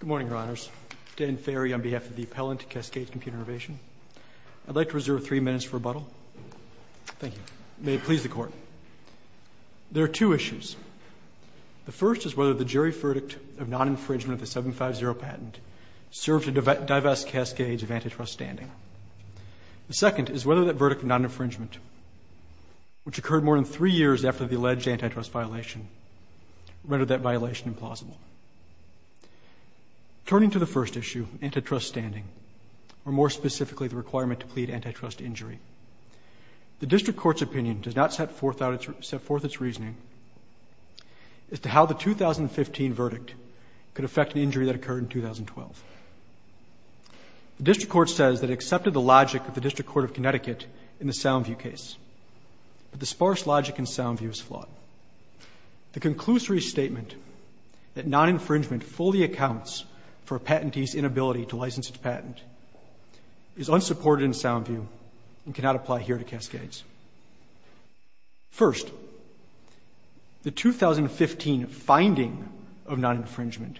Good morning, Your Honors. Dan Ferry on behalf of the appellant to Cascades Computer Innovation. I'd like to reserve three minutes for rebuttal. Thank you. May it please the Court. There are two issues. The first is whether the jury verdict of non-infringement of the 750 patent served to divest Cascades of antitrust standing. The second is whether that verdict of non-infringement, which occurred more than three years after the alleged antitrust violation, rendered that violation implausible. Turning to the first issue, antitrust standing, or more specifically the requirement to plead antitrust injury, the District Court's opinion does not set forth its reasoning as to how the 2015 verdict could affect an injury that occurred in 2012. The District Court says that it accepted the logic of the District Court of Connecticut in the Soundview case, but the sparse logic in Soundview is flawed. The conclusory statement that non-infringement fully accounts for a patentee's inability to license its patent is unsupported in Soundview and cannot apply here to Cascades. First, the 2015 finding of non-infringement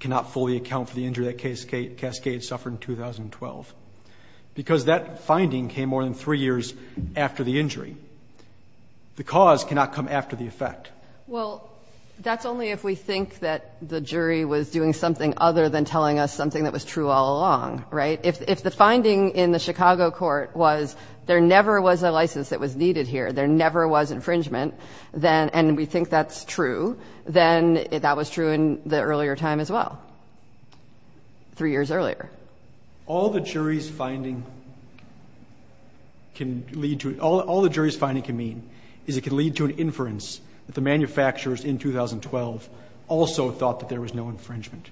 cannot fully account for the injury that Cascades suffered in 2012 because that finding came more than three years after the injury. The cause cannot come after the effect. Well, that's only if we think that the jury was doing something other than telling us something that was true all along, right? If the finding in the Chicago court was there never was a license that was needed here, there never was infringement, and we think that's true, then that was true in the earlier time as well, three years earlier. All the jury's finding can lead to, all the jury's finding can mean is it can lead to an inference that the manufacturers in 2012 also thought that there was no infringement.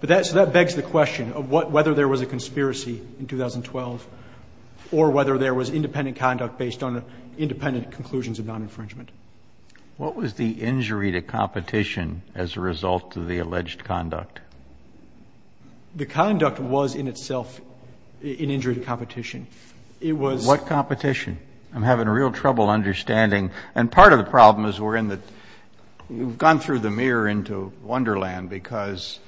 So that begs the question of whether there was a conspiracy in 2012 or whether there was independent conduct based on independent conclusions of non-infringement. What was the injury to competition as a result of the alleged conduct? The conduct was in itself an injury to competition. It was... What competition? I'm having real trouble understanding, and part of the problem is we're in the, we've gone through the mirror into Wonderland because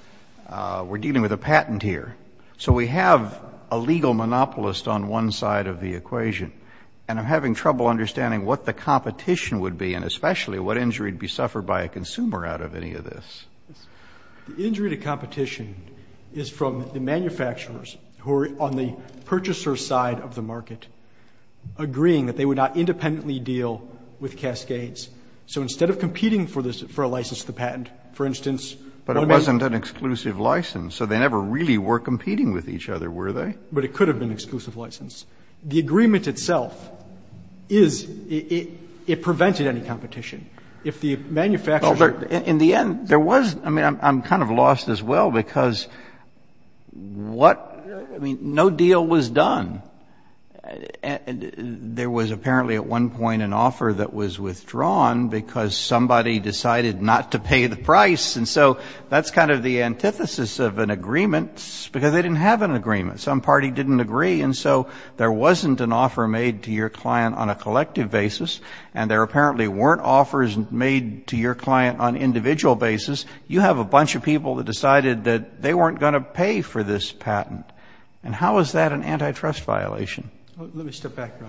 we're dealing with a patent here. So we have a legal monopolist on one side of the equation, and I'm having trouble understanding what the competition would be and especially what injury would be suffered by a consumer out of any of this. The injury to competition is from the manufacturers who are on the purchaser's side of the market agreeing that they would not independently deal with Cascades. So instead of competing for a license to the patent, for instance... But it wasn't an exclusive license, so they never really were competing with each other, were they? But it could have been an exclusive license. The agreement itself is, it prevented any competition. If the manufacturers... In the end, there was, I mean, I'm kind of lost as well because what, I mean, no deal was done. There was apparently at one point an offer that was withdrawn because somebody decided not to pay the price, and so that's kind of the antithesis of an agreement because they didn't have an agreement. Some party didn't agree, and so there wasn't an offer made to your client on a collective basis, and there apparently weren't offers made to your client on an individual basis. You have a bunch of people that decided that they weren't going to pay for this patent, and how is that an antitrust violation? Let me step back, Your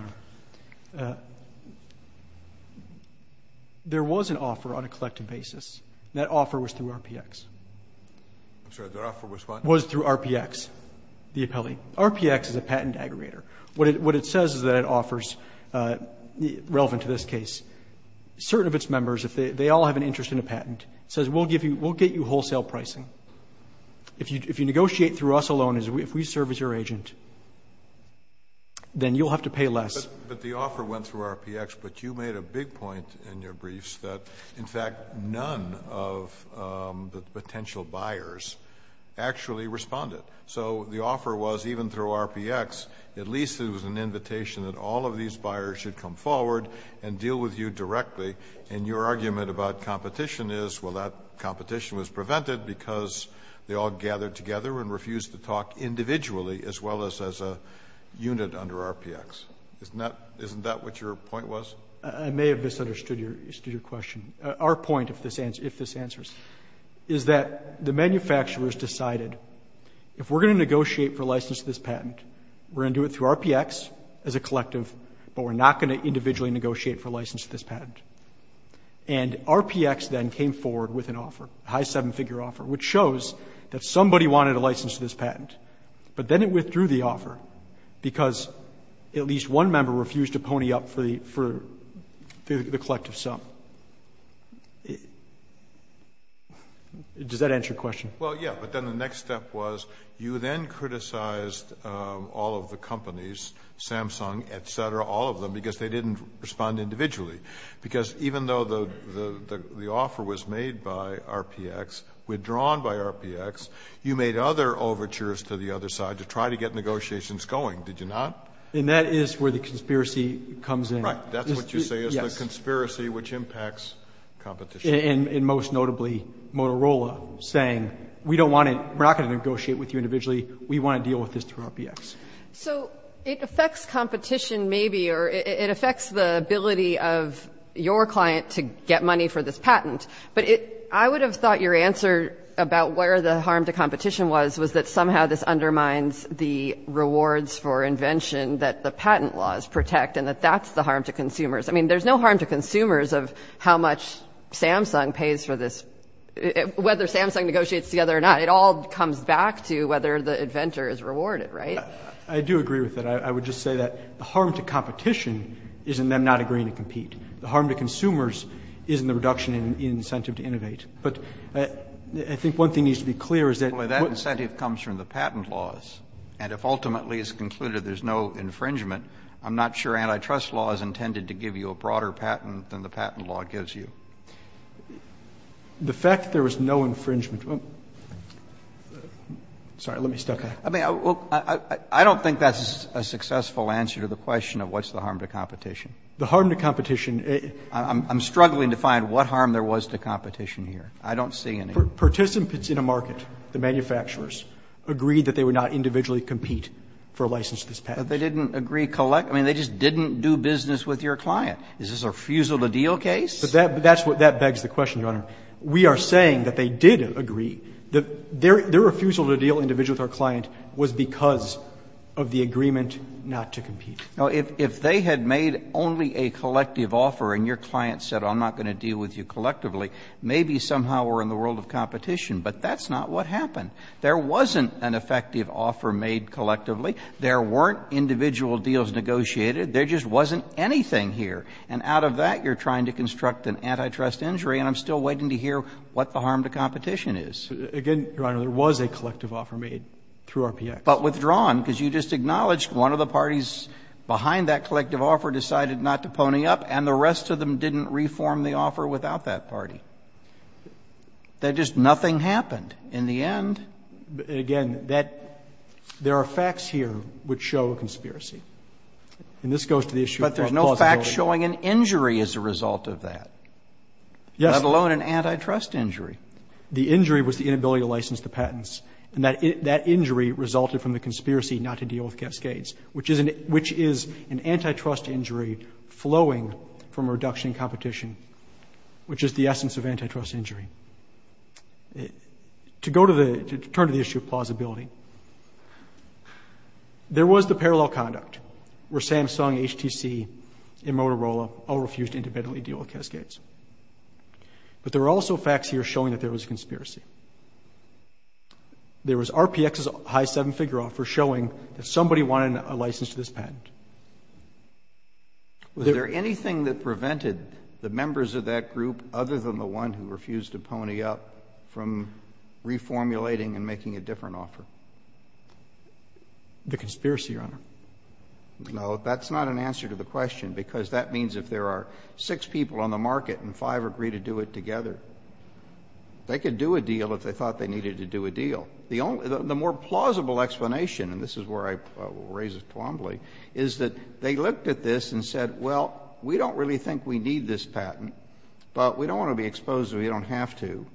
Honor. There was an offer on a collective basis, and that offer was through RPX. I'm sorry, that offer was what? Was through RPX, the appellee. RPX is a patent aggregator. What it says is that it offers, relevant to this case, certain of its members, if they all have an interest in a patent, it says we'll get you wholesale pricing. If you negotiate through us alone, if we serve as your agent, then you'll have to pay less. But the offer went through RPX, but you made a big point in your briefs that, in fact, none of the potential buyers actually responded. So the offer was, even through RPX, at least it was an invitation that all of these buyers should come forward and deal with you directly. And your argument about competition is, well, that competition was prevented because they all gathered together and refused to talk individually as well as as a unit under RPX. Isn't that what your point was? I may have misunderstood your question. Our point, if this answers, is that the manufacturers decided, if we're going to negotiate for license to this patent, we're going to do it through RPX as a collective, but we're not going to individually negotiate for license to this patent. And RPX then came forward with an offer, a high seven-figure offer, which shows that somebody wanted a license to this patent. But then it withdrew the offer because at least one member refused to pony up for the collective sum. Does that answer your question? Well, yeah. But then the next step was you then criticized all of the companies, Samsung, et cetera, all of them, because they didn't respond individually. Because even though the offer was made by RPX, withdrawn by RPX, you made other overtures to the other side to try to get negotiations going. Did you not? And that is where the conspiracy comes in. Right. That's what you say is the conspiracy which impacts competition. And most notably, Motorola saying, we don't want to – we're not going to negotiate with you individually. We want to deal with this through RPX. So it affects competition maybe, or it affects the ability of your client to get money for this patent. But I would have thought your answer about where the harm to competition was, was that somehow this undermines the rewards for invention that the patent laws protect and that that's the harm to consumers. I mean, there's no harm to consumers of how much Samsung pays for this. Whether Samsung negotiates together or not, it all comes back to whether the inventor is rewarded, right? I do agree with that. I would just say that the harm to competition is in them not agreeing to compete. The harm to consumers is in the reduction in incentive to innovate. But I think one thing needs to be clear is that – The harm to competition comes from the patent laws. And if ultimately it's concluded there's no infringement, I'm not sure antitrust law is intended to give you a broader patent than the patent law gives you. The fact there was no infringement – sorry, let me step back. I mean, I don't think that's a successful answer to the question of what's the harm to competition. The harm to competition – I'm struggling to find what harm there was to competition here. I don't see any. Participants in a market, the manufacturers, agreed that they would not individually compete for a license to this patent. But they didn't agree – I mean, they just didn't do business with your client. Is this a refusal-to-deal case? That begs the question, Your Honor. We are saying that they did agree. Their refusal to deal individually with our client was because of the agreement not to compete. Now, if they had made only a collective offer and your client said I'm not going to deal with you collectively, maybe somehow we're in the world of competition. But that's not what happened. There wasn't an effective offer made collectively. There weren't individual deals negotiated. There just wasn't anything here. And out of that, you're trying to construct an antitrust injury, and I'm still waiting to hear what the harm to competition is. Again, Your Honor, there was a collective offer made through RPX. But withdrawn, because you just acknowledged one of the parties behind that collective offer decided not to pony up, and the rest of them didn't reform the offer without that party. That just nothing happened in the end. Again, that – there are facts here which show a conspiracy. And this goes to the issue of plausibility. But there's no fact showing an injury as a result of that, let alone an antitrust injury. The injury was the inability to license the patents. And that injury resulted from the conspiracy not to deal with Cascades, which is an antitrust injury flowing from a reduction in competition, which is the essence of antitrust injury. To go to the – to turn to the issue of plausibility, there was the parallel conduct, where Samsung, HTC, and Motorola all refused to independently deal with Cascades. But there are also facts here showing that there was a conspiracy. There was RPX's high seven-figure offer showing that somebody wanted a license to this patent. Was there anything that prevented the members of that group, other than the one who refused to pony up, from reformulating and making a different offer? The conspiracy, Your Honor. No. That's not an answer to the question, because that means if there are six people on the market and five agree to do it together, they could do a deal if they thought they needed to do a deal. The more plausible explanation, and this is where I will raise a Twombly, is that they looked at this and said, well, we don't really think we need this patent, but we don't want to be exposed if we don't have to.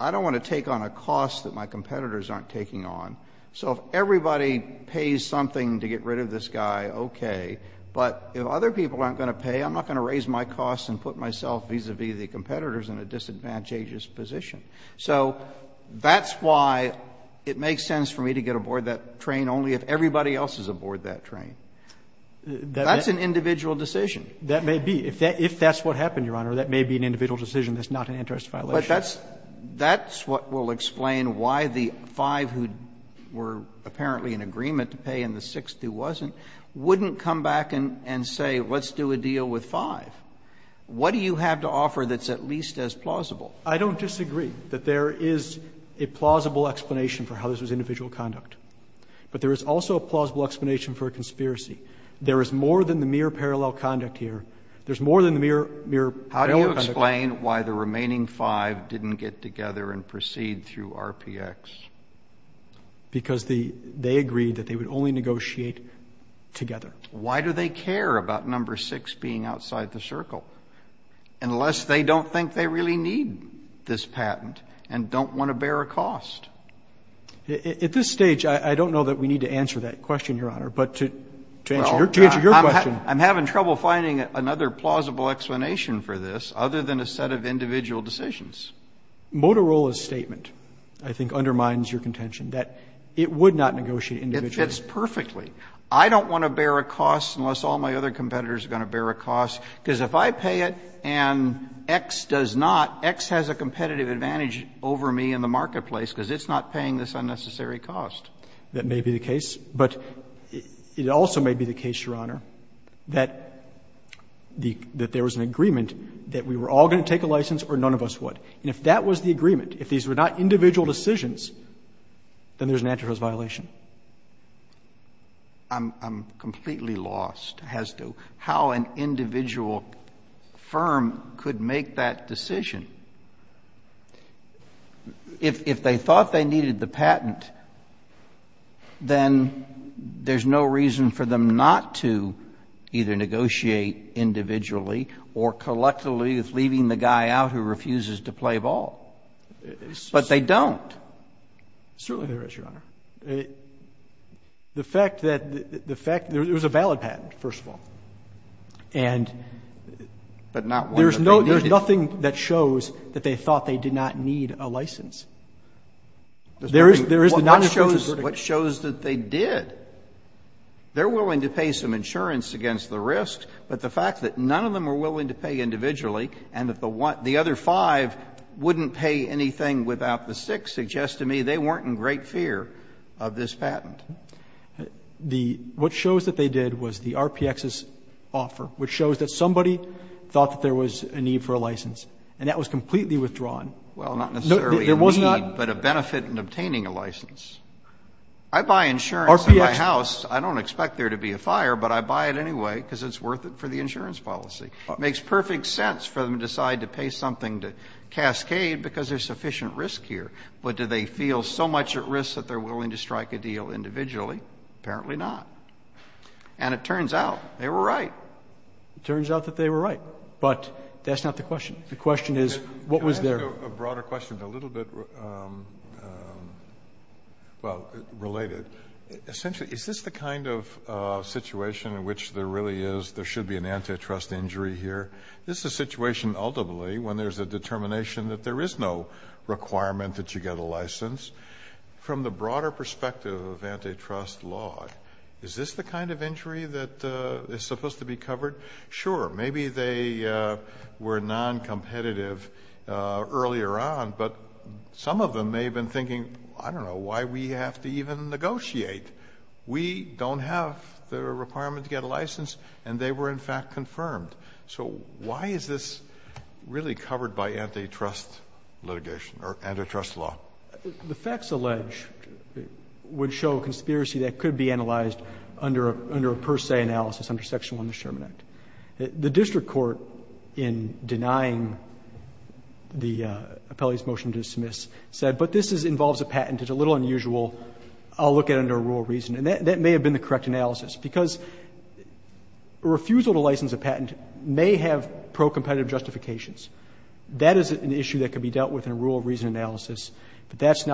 I don't want to take on a cost that my competitors aren't taking on. So if everybody pays something to get rid of this guy, okay. But if other people aren't going to pay, I'm not going to raise my costs and put myself vis-a-vis the competitors in a disadvantageous position. So that's why it makes sense for me to get aboard that train only if everybody else is aboard that train. That's an individual decision. That may be. If that's what happened, Your Honor, that may be an individual decision that's not an interest violation. But that's what will explain why the five who were apparently in agreement to pay and the six who wasn't wouldn't come back and say let's do a deal with five. What do you have to offer that's at least as plausible? I don't disagree that there is a plausible explanation for how this was individual conduct. But there is also a plausible explanation for a conspiracy. There is more than the mere parallel conduct here. There's more than the mere parallel conduct. How do you explain why the remaining five didn't get together and proceed through RPX? Because they agreed that they would only negotiate together. Why do they care about number six being outside the circle unless they don't think they really need this patent and don't want to bear a cost? At this stage, I don't know that we need to answer that question, Your Honor. But to answer your question. I'm having trouble finding another plausible explanation for this other than a set of individual decisions. Motorola's statement, I think, undermines your contention that it would not negotiate individually. It fits perfectly. I don't want to bear a cost unless all my other competitors are going to bear a cost because if I pay it and X does not, X has a competitive advantage over me in the marketplace because it's not paying this unnecessary cost. That may be the case. But it also may be the case, Your Honor, that there was an agreement that we were all going to take a license or none of us would. And if that was the agreement, if these were not individual decisions, then there's an antitrust violation. I'm completely lost as to how an individual firm could make that decision. If they thought they needed the patent, then there's no reason for them not to either negotiate individually or collectively with leaving the guy out who refuses to play ball. But they don't. Certainly there is, Your Honor. The fact that the fact there was a valid patent, first of all. And there's nothing that shows that they thought they did not need a license. There is the nondisclosure verdict. What shows that they did? They're willing to pay some insurance against the risk, but the fact that none of them were willing to pay individually and that the other five wouldn't pay anything without the six suggests to me they weren't in great fear of this patent. The what shows that they did was the RPX's offer, which shows that somebody thought that there was a need for a license, and that was completely withdrawn. Well, not necessarily a need, but a benefit in obtaining a license. I buy insurance in my house. I don't expect there to be a fire, but I buy it anyway because it's worth it for the insurance policy. It makes perfect sense for them to decide to pay something to Cascade because there's sufficient risk here. But do they feel so much at risk that they're willing to strike a deal individually? Apparently not. And it turns out they were right. It turns out that they were right. But that's not the question. The question is what was there? I have a broader question, but a little bit, well, related. Essentially, is this the kind of situation in which there really is there should be an antitrust injury here? This is a situation ultimately when there's a determination that there is no requirement that you get a license. From the broader perspective of antitrust law, is this the kind of injury that is supposed to be covered? Sure. Maybe they were noncompetitive earlier on, but some of them may have been thinking, I don't know, why we have to even negotiate? We don't have the requirement to get a license, and they were in fact confirmed. So why is this really covered by antitrust litigation or antitrust law? The facts alleged would show a conspiracy that could be analyzed under a per se analysis under section 1 of the Sherman Act. The district court in denying the appellee's motion to dismiss said, but this involves a patent. It's a little unusual. I'll look at it under a rule of reason. And that may have been the correct analysis, because a refusal to license a patent may have procompetitive justifications. That is an issue that could be dealt with in a rule of reason analysis, but that's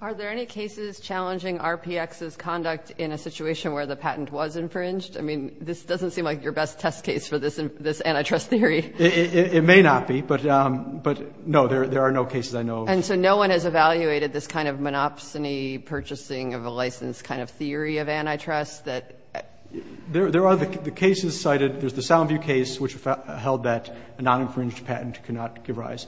Are there any cases challenging RPX's conduct in a situation where the patent was infringed? I mean, this doesn't seem like your best test case for this antitrust theory. It may not be, but no, there are no cases I know of. And so no one has evaluated this kind of monopsony purchasing of a license kind of theory of antitrust? There are the cases cited. There's the Soundview case, which held that a noninfringed patent could not give rise.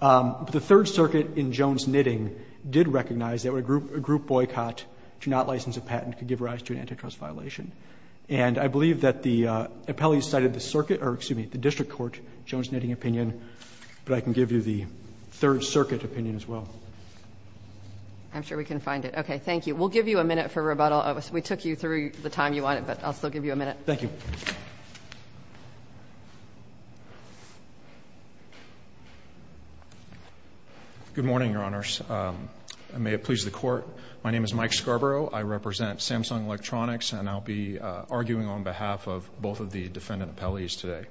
The Third Circuit in Jones-Knitting did recognize that a group boycott to not license a patent could give rise to an antitrust violation. And I believe that the appellee cited the circuit or, excuse me, the district court Jones-Knitting opinion, but I can give you the Third Circuit opinion as well. I'm sure we can find it. Okay. Thank you. We'll give you a minute for rebuttal. We took you through the time you wanted, but I'll still give you a minute. Thank you. Good morning, Your Honors. May it please the Court. My name is Mike Scarborough. I represent Samsung Electronics, and I'll be arguing on behalf of both of the defendant appellees today.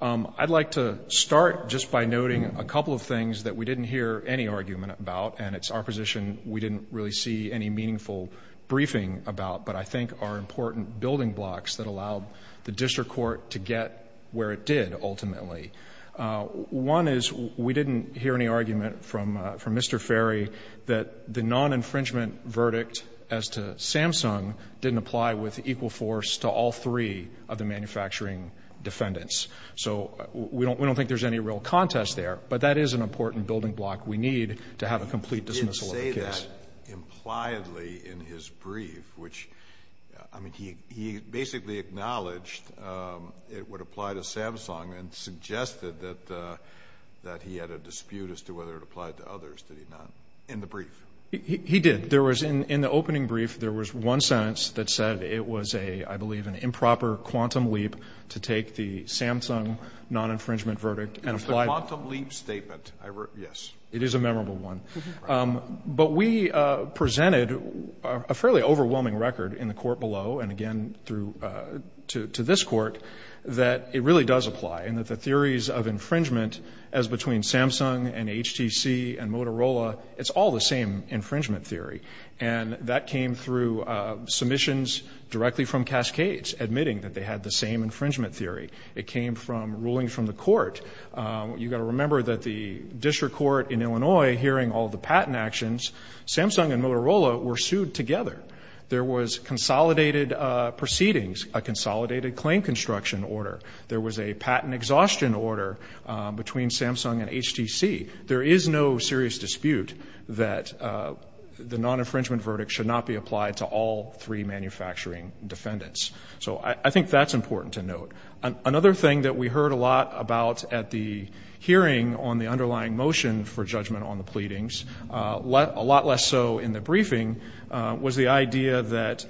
I'd like to start just by noting a couple of things that we didn't hear any argument about, and it's our position we didn't really see any meaningful briefing about, but I think are important building blocks that allow the district court to get where it did ultimately. One is we didn't hear any argument from Mr. Ferry that the non-infringement verdict as to Samsung didn't apply with equal force to all three of the manufacturing defendants. So we don't think there's any real contest there, but that is an important building block we need to have a complete dismissal of the case. He said impliedly in his brief, which, I mean, he basically acknowledged it would apply to Samsung and suggested that he had a dispute as to whether it applied to others, did he not, in the brief? He did. In the opening brief, there was one sentence that said it was a, I believe, an improper quantum leap to take the Samsung non-infringement verdict and apply it. It's the quantum leap statement, I read. Yes. It is a memorable one. But we presented a fairly overwhelming record in the court below and again through to this court that it really does apply and that the theories of infringement as between Samsung and HTC and Motorola, it's all the same infringement theory. And that came through submissions directly from Cascades admitting that they had the same infringement theory. It came from rulings from the court. You've got to remember that the district court in Illinois hearing all the patent actions, Samsung and Motorola were sued together. There was consolidated proceedings, a consolidated claim construction order. There was a patent exhaustion order between Samsung and HTC. There is no serious dispute that the non-infringement verdict should not be applied to all three manufacturing defendants. So I think that's important to note. Another thing that we heard a lot about at the hearing on the underlying motion for judgment on the pleadings, a lot less so in the briefing, was the idea that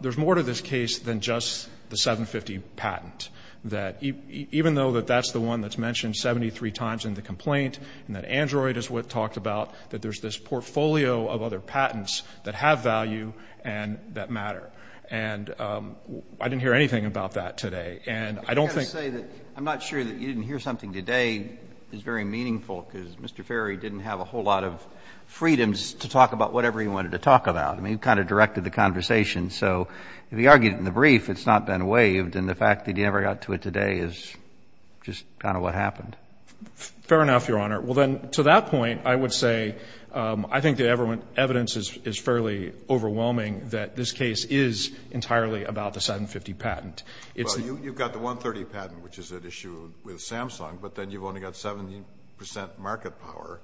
there's more to this case than just the 750 patent, that even though that that's the one that's mentioned 73 times in the complaint and that Android is what talked about, that there's this portfolio of other patents that have value and that matter. And I didn't hear anything about that today. And I don't think I'm not sure that you didn't hear something today is very meaningful, because Mr. Ferry didn't have a whole lot of freedoms to talk about whatever he wanted to talk about. I mean, he kind of directed the conversation. So if he argued it in the brief, it's not been waived. And the fact that he never got to it today is just kind of what happened. Fair enough, Your Honor. Well, then, to that point, I would say I think the evidence is fairly overwhelming that this case is entirely about the 750 patent. Well, you've got the 130 patent, which is at issue with Samsung, but then you've only got 70 percent market power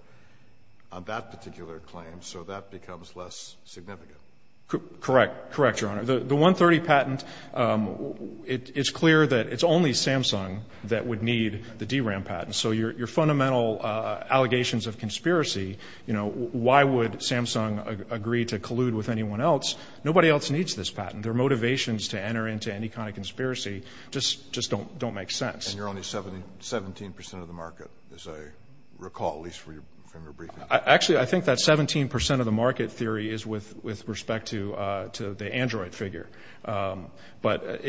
on that particular claim, so that becomes less significant. Correct. Correct, Your Honor. The 130 patent, it's clear that it's only Samsung that would need the DRAM patent. So your fundamental allegations of conspiracy, you know, why would Samsung agree to collude with anyone else? Nobody else needs this patent. Their motivations to enter into any kind of conspiracy just don't make sense. And you're only 17 percent of the market, as I recall, at least from your briefing. Actually, I think that 17 percent of the market theory is with respect to the Android figure. But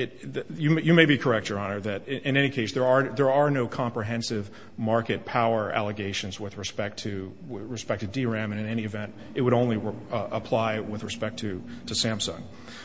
you may be correct, Your Honor, that in any case, there are no comprehensive market power allegations with respect to DRAM, and in any event, it would only apply with respect to Samsung.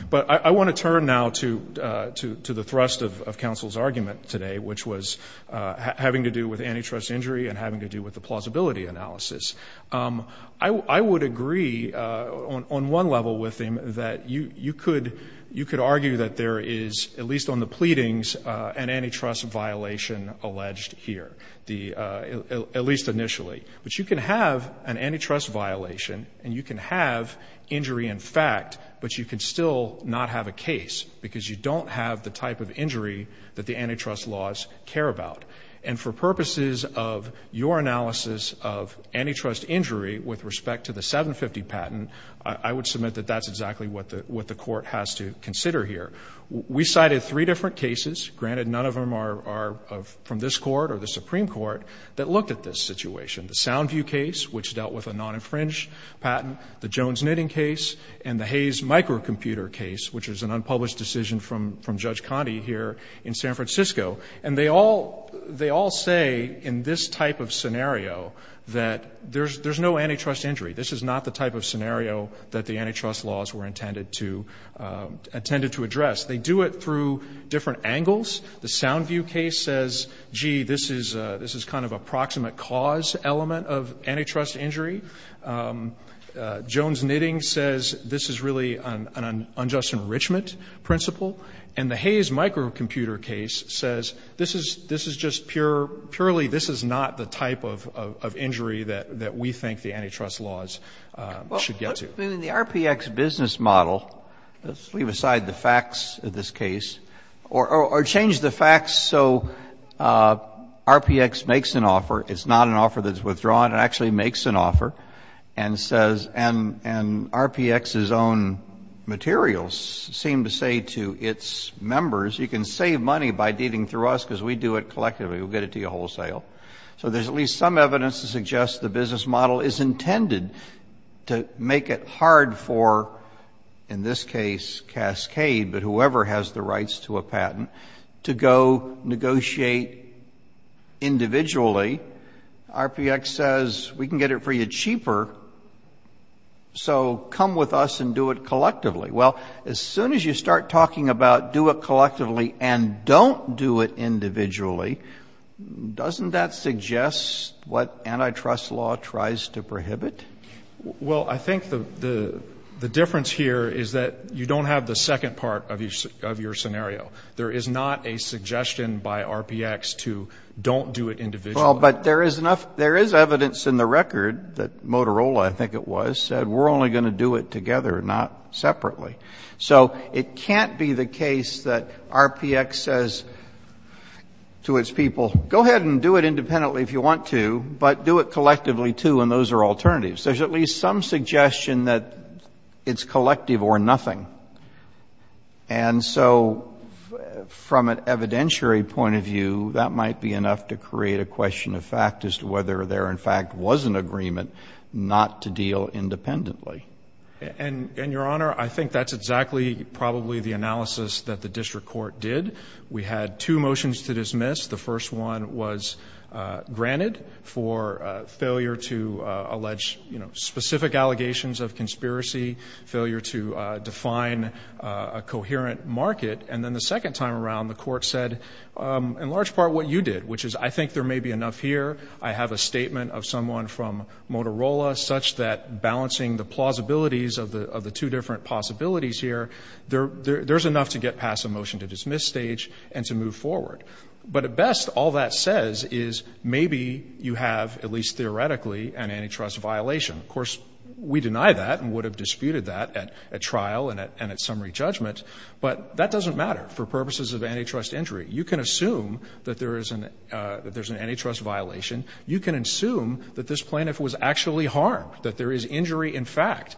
But I want to turn now to the thrust of counsel's argument today, which was having to do with antitrust injury and having to do with the plausibility analysis. I would agree on one level with him that you could argue that there is, at least on the pleadings, an antitrust violation alleged here, at least initially. But you can have an antitrust violation and you can have injury in fact, but you can still not have a case because you don't have the type of injury that the antitrust laws care about. And for purposes of your analysis of antitrust injury with respect to the 750 patent, I would submit that that's exactly what the Court has to consider here. We cited three different cases. Granted, none of them are from this Court or the Supreme Court that looked at this situation. The Soundview case, which dealt with a non-infringed patent, the Jones Knitting case, and the Hayes Microcomputer case, which was an unpublished decision from Judge Conte here in San Francisco. And they all say in this type of scenario that there's no antitrust injury. This is not the type of scenario that the antitrust laws were intended to address. They do it through different angles. The Soundview case says, gee, this is kind of a proximate cause element of antitrust injury. Jones Knitting says this is really an unjust enrichment principle. And the Hayes Microcomputer case says this is just pure, purely this is not the type of injury that we think the antitrust laws should get to. The RPX business model, let's leave aside the facts of this case, or change the facts so RPX makes an offer, it's not an offer that's withdrawn, it actually makes an offer and says, and RPX's own materials seem to say to its members, you can save money by dealing through us because we do it collectively, we'll get it to you wholesale. So there's at least some evidence to suggest the business model is intended to make it hard for, in this case, Cascade, but whoever has the rights to a patent, to go negotiate individually. RPX says, we can get it for you cheaper, so come with us and do it collectively. Well, as soon as you start talking about do it collectively and don't do it individually, doesn't that suggest what antitrust law tries to prohibit? Well, I think the difference here is that you don't have the second part of your scenario. There is not a suggestion by RPX to don't do it individually. Well, but there is enough, there is evidence in the record that Motorola, I think it was, said we're only going to do it together, not separately. So it can't be the case that RPX says to its people, go ahead and do it independently if you want to, but do it collectively, too, and those are alternatives. There's at least some suggestion that it's collective or nothing. And so from an evidentiary point of view, that might be enough to create a question of fact as to whether there, in fact, was an agreement not to deal independently. And, Your Honor, I think that's exactly probably the analysis that the district court did. We had two motions to dismiss. The first one was granted for failure to allege specific allegations of conspiracy, failure to define a coherent market. And then the second time around, the court said, in large part, what you did, which is I think there may be enough here. I have a statement of someone from Motorola such that balancing the plausibilities of the two different possibilities here, there's enough to get past the motion to dismiss stage and to move forward. But at best, all that says is maybe you have, at least theoretically, an antitrust violation. Of course, we deny that and would have disputed that at trial and at summary judgment, but that doesn't matter for purposes of antitrust injury. You can assume that there is an antitrust violation. You can assume that this plaintiff was actually harmed, that there is injury, in fact,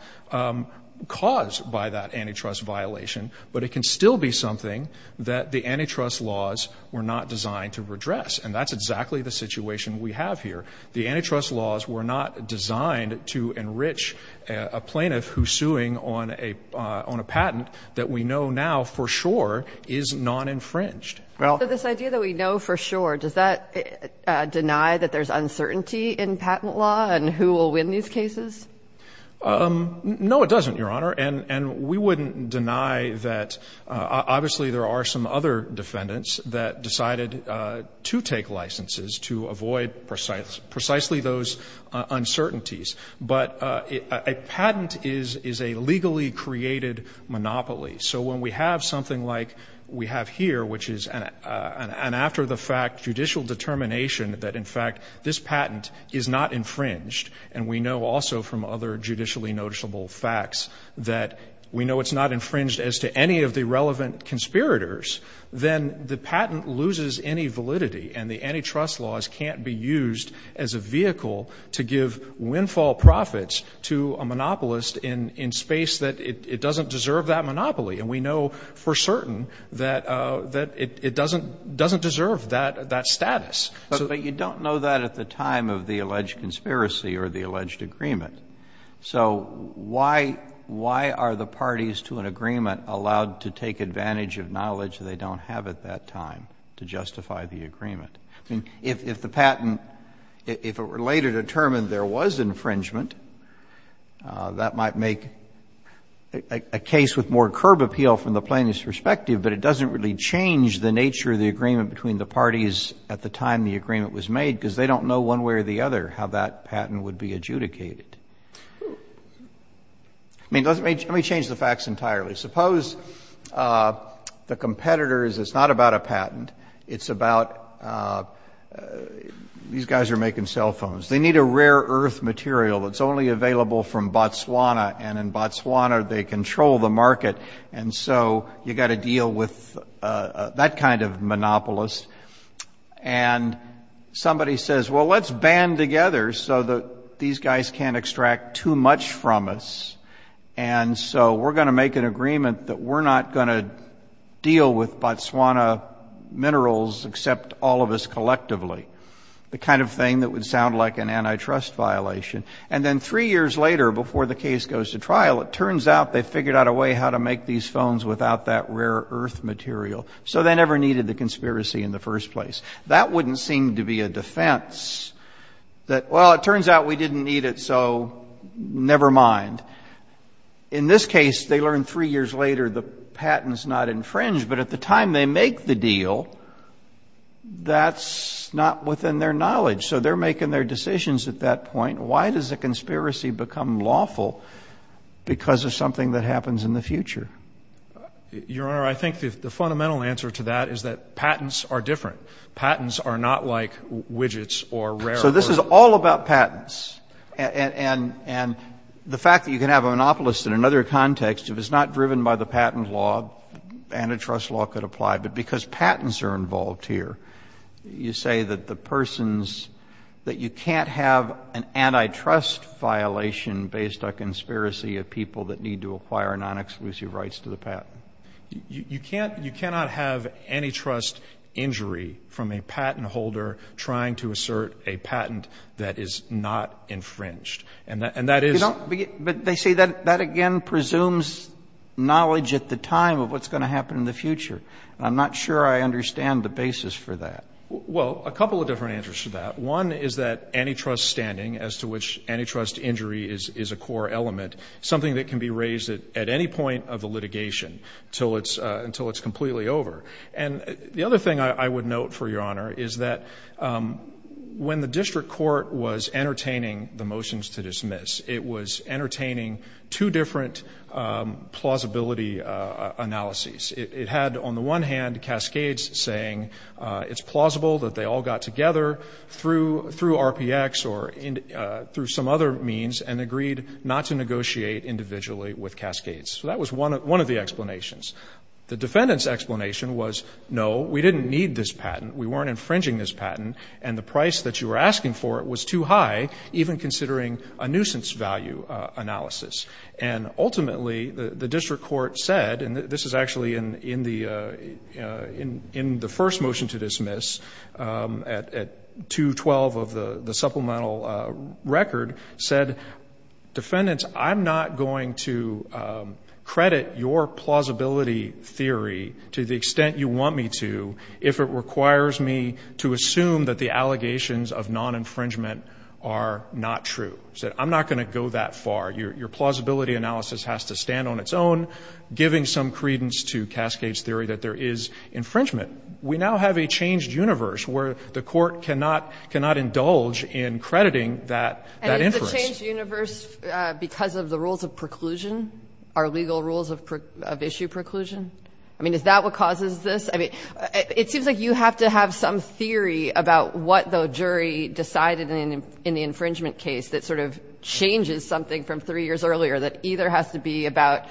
caused by that antitrust violation, but it can still be something that the antitrust laws were not designed to redress. And that's exactly the situation we have here. The antitrust laws were not designed to enrich a plaintiff who's suing on a patent that we know now for sure is non-infringed. So this idea that we know for sure, does that deny that there's uncertainty in patent law and who will win these cases? No, it doesn't, Your Honor. And we wouldn't deny that. Obviously, there are some other defendants that decided to take licenses to avoid precisely those uncertainties. But a patent is a legally created monopoly. So when we have something like we have here, which is an after-the-fact judicial determination that, in fact, this patent is not infringed, and we know also from other judicially noticeable facts that we know it's not infringed as to any of the relevant conspirators, then the patent loses any validity and the antitrust laws can't be used as a vehicle to give windfall profits to a monopolist in space that it doesn't deserve that monopoly. And we know for certain that it doesn't deserve that status. But you don't know that at the time of the alleged conspiracy or the alleged agreement. So why are the parties to an agreement allowed to take advantage of knowledge they don't have at that time to justify the agreement? I mean, if the patent, if it were later determined there was infringement, that might make a case with more curb appeal from the plaintiff's perspective, but it doesn't really change the nature of the agreement between the parties at the time the agreement was made because they don't know one way or the other how that patent would be adjudicated. I mean, let me change the facts entirely. Suppose the competitors, it's not about a patent. It's about these guys are making cell phones. They need a rare earth material that's only available from Botswana, and in Botswana they control the market. And so you've got to deal with that kind of monopolist. And somebody says, well, let's band together so that these guys can't extract too much from us. And so we're going to make an agreement that we're not going to deal with Botswana minerals except all of us collectively, the kind of thing that would sound like an antitrust violation. And then three years later before the case goes to trial, it turns out they figured out a way how to make these phones without that rare earth material. So they never needed the conspiracy in the first place. That wouldn't seem to be a defense that, well, it turns out we didn't need it, so never mind. In this case, they learn three years later the patent is not infringed, but at the time they make the deal, that's not within their knowledge. So they're making their decisions at that point. Why does a conspiracy become lawful? Because of something that happens in the future. Your Honor, I think the fundamental answer to that is that patents are different. Patents are not like widgets or rare earth. So this is all about patents. And the fact that you can have a monopolist in another context, if it's not driven by the patent law, antitrust law could apply. But because patents are involved here, you say that the persons, that you can't have an antitrust violation based on conspiracy of people that need to acquire non-exclusive rights to the patent. You cannot have antitrust injury from a patent holder trying to assert a patent that is not infringed. And that is... But they say that again presumes knowledge at the time of what's going to happen in the future. I'm not sure I understand the basis for that. Well, a couple of different answers to that. One is that antitrust standing, as to which antitrust injury is a core element, something that can be raised at any point of the litigation until it's completely over. And the other thing I would note, for your honor, is that when the district court was entertaining the motions to dismiss, it was entertaining two different plausibility analyses. It had, on the one hand, Cascades saying it's plausible that they all got together through RPX or through some other means and agreed not to negotiate individually with Cascades. So that was one of the explanations. The defendant's explanation was, no, we didn't need this patent, we weren't infringing this patent, and the price that you were asking for it was too high, even considering a nuisance value analysis. And ultimately, the district court said, and this is actually in the first motion to dismiss at 212 of the supplemental record, said, defendants, I'm not going to go that far. Your plausibility analysis has to stand on its own, giving some credence to Cascades theory that there is infringement. We now have a changed universe where the court cannot indulge in crediting that inference. And is the changed universe because of the rules of preclusion, our legal rules No. No. No. No. No. I mean, is that what causes this? I mean, it seems like you have to have some theory about what the jury decided in the infringement case that sort of changes something from three years earlier that either has to be about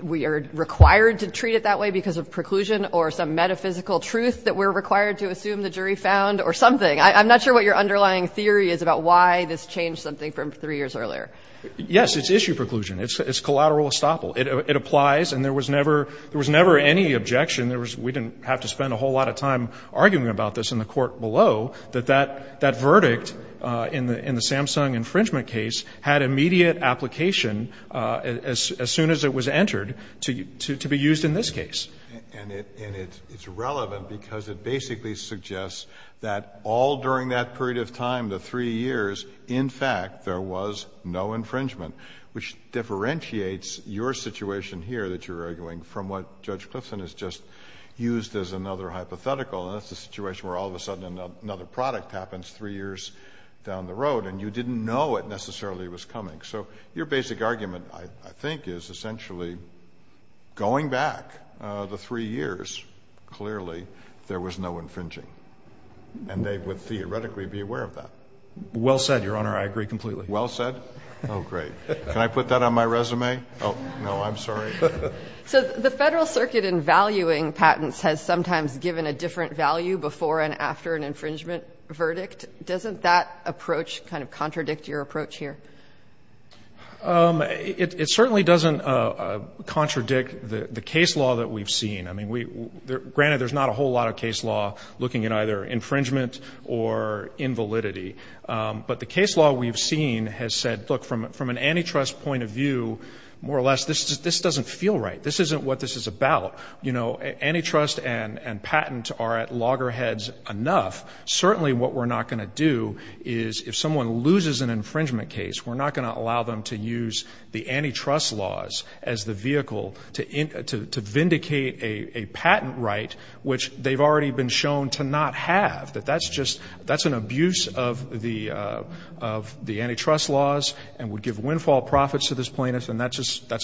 we are required to treat it that way because of preclusion or some metaphysical truth that we're required to assume the jury found or something. I'm not sure what your underlying theory is about why this changed something from three years earlier. Yes. It's issue preclusion. It's collateral estoppel. It applies. And there was never any objection. We didn't have to spend a whole lot of time arguing about this in the court below that that verdict in the Samsung infringement case had immediate application as soon as it was entered to be used in this case. And it's relevant because it basically suggests that all during that period of time, the three years, in fact, there was no infringement, which differentiates your situation here that you're arguing from what Judge Clifton has just used as another hypothetical, and that's the situation where all of a sudden another product happens three years down the road, and you didn't know it necessarily was coming. So your basic argument, I think, is essentially going back the three years, clearly there was no infringing, and they would theoretically be aware of that. Well said, Your Honor. I agree completely. Well said? Oh, great. Can I put that on my resume? Oh, no, I'm sorry. So the Federal Circuit in valuing patents has sometimes given a different value before and after an infringement verdict. Doesn't that approach kind of contradict your approach here? It certainly doesn't contradict the case law that we've seen. I mean, granted, there's not a whole lot of case law looking at either infringement or invalidity, but the case law we've seen has said, look, from an antitrust point of view, more or less, this doesn't feel right. This isn't what this is about. You know, antitrust and patent are at loggerheads enough. Certainly what we're not going to do is if someone loses an infringement case, we're not going to allow them to use the antitrust laws as the vehicle to vindicate a patent right, which they've already been shown to not have, that that's just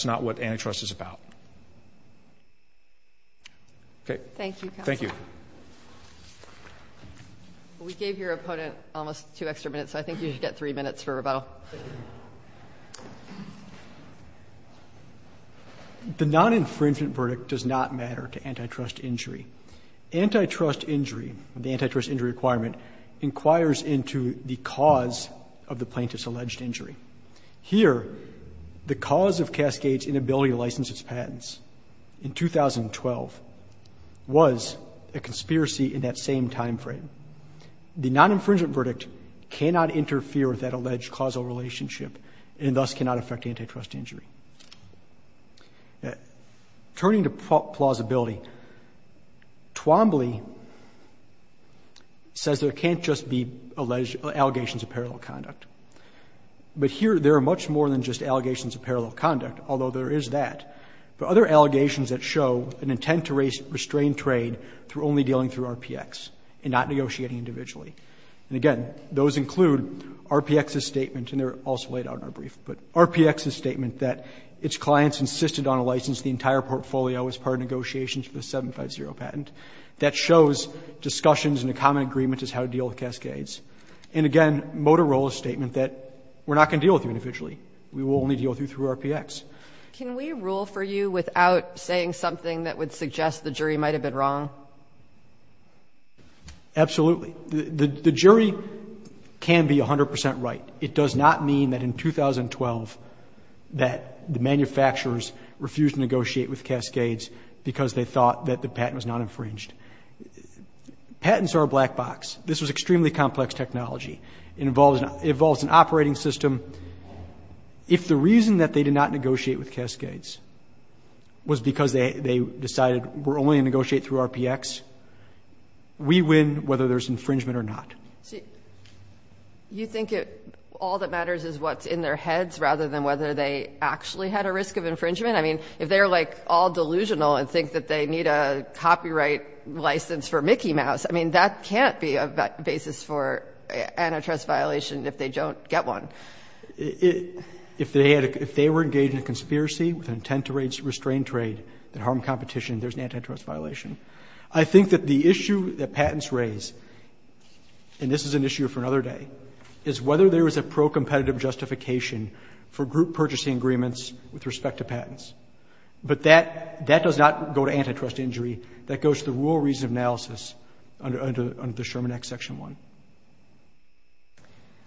not what antitrust is about. Okay. Thank you, counsel. Thank you. We gave your opponent almost two extra minutes, so I think you should get three minutes for rebuttal. The non-infringement verdict does not matter to antitrust injury. Antitrust injury, the antitrust injury requirement, inquires into the cause of the plaintiff's alleged injury. Here, the cause of Cascade's inability to license its patents in 2012 was a conspiracy in that same timeframe. The non-infringement verdict cannot interfere with that alleged causal relationship and thus cannot affect antitrust injury. Turning to plausibility, Twombly says there can't just be allegations of parallel conduct. But here, there are much more than just allegations of parallel conduct, although there is that. There are other allegations that show an intent to restrain trade through only dealing through RPX and not negotiating individually. And again, those include RPX's statement, and they're also laid out in our brief, but RPX's statement that its clients insisted on a license the entire portfolio as part of negotiations for the 750 patent. That shows discussions and a common agreement as how to deal with Cascades. And again, Motorola's statement that we're not going to deal with you individually. We will only deal with you through RPX. Can we rule for you without saying something that would suggest the jury might have been wrong? Absolutely. The jury can be 100 percent right. But it does not mean that in 2012 that the manufacturers refused to negotiate with Cascades because they thought that the patent was not infringed. Patents are a black box. This was extremely complex technology. It involves an operating system. If the reason that they did not negotiate with Cascades was because they decided we're only going to negotiate through RPX, we win whether there's infringement or not. So you think all that matters is what's in their heads rather than whether they actually had a risk of infringement? I mean, if they're, like, all delusional and think that they need a copyright license for Mickey Mouse, I mean, that can't be a basis for antitrust violation if they don't get one. If they were engaged in a conspiracy with an intent to restrain trade that harmed competition, there's an antitrust violation. I think that the issue that patents raise, and this is an issue for another day, is whether there is a pro-competitive justification for group purchasing agreements with respect to patents. But that does not go to antitrust injury. That goes to the rule of reason analysis under the Sherman Act, Section 1.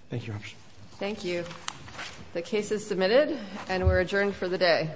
Thank you, Your Honor. Thank you. The case is submitted, and we're adjourned for the day.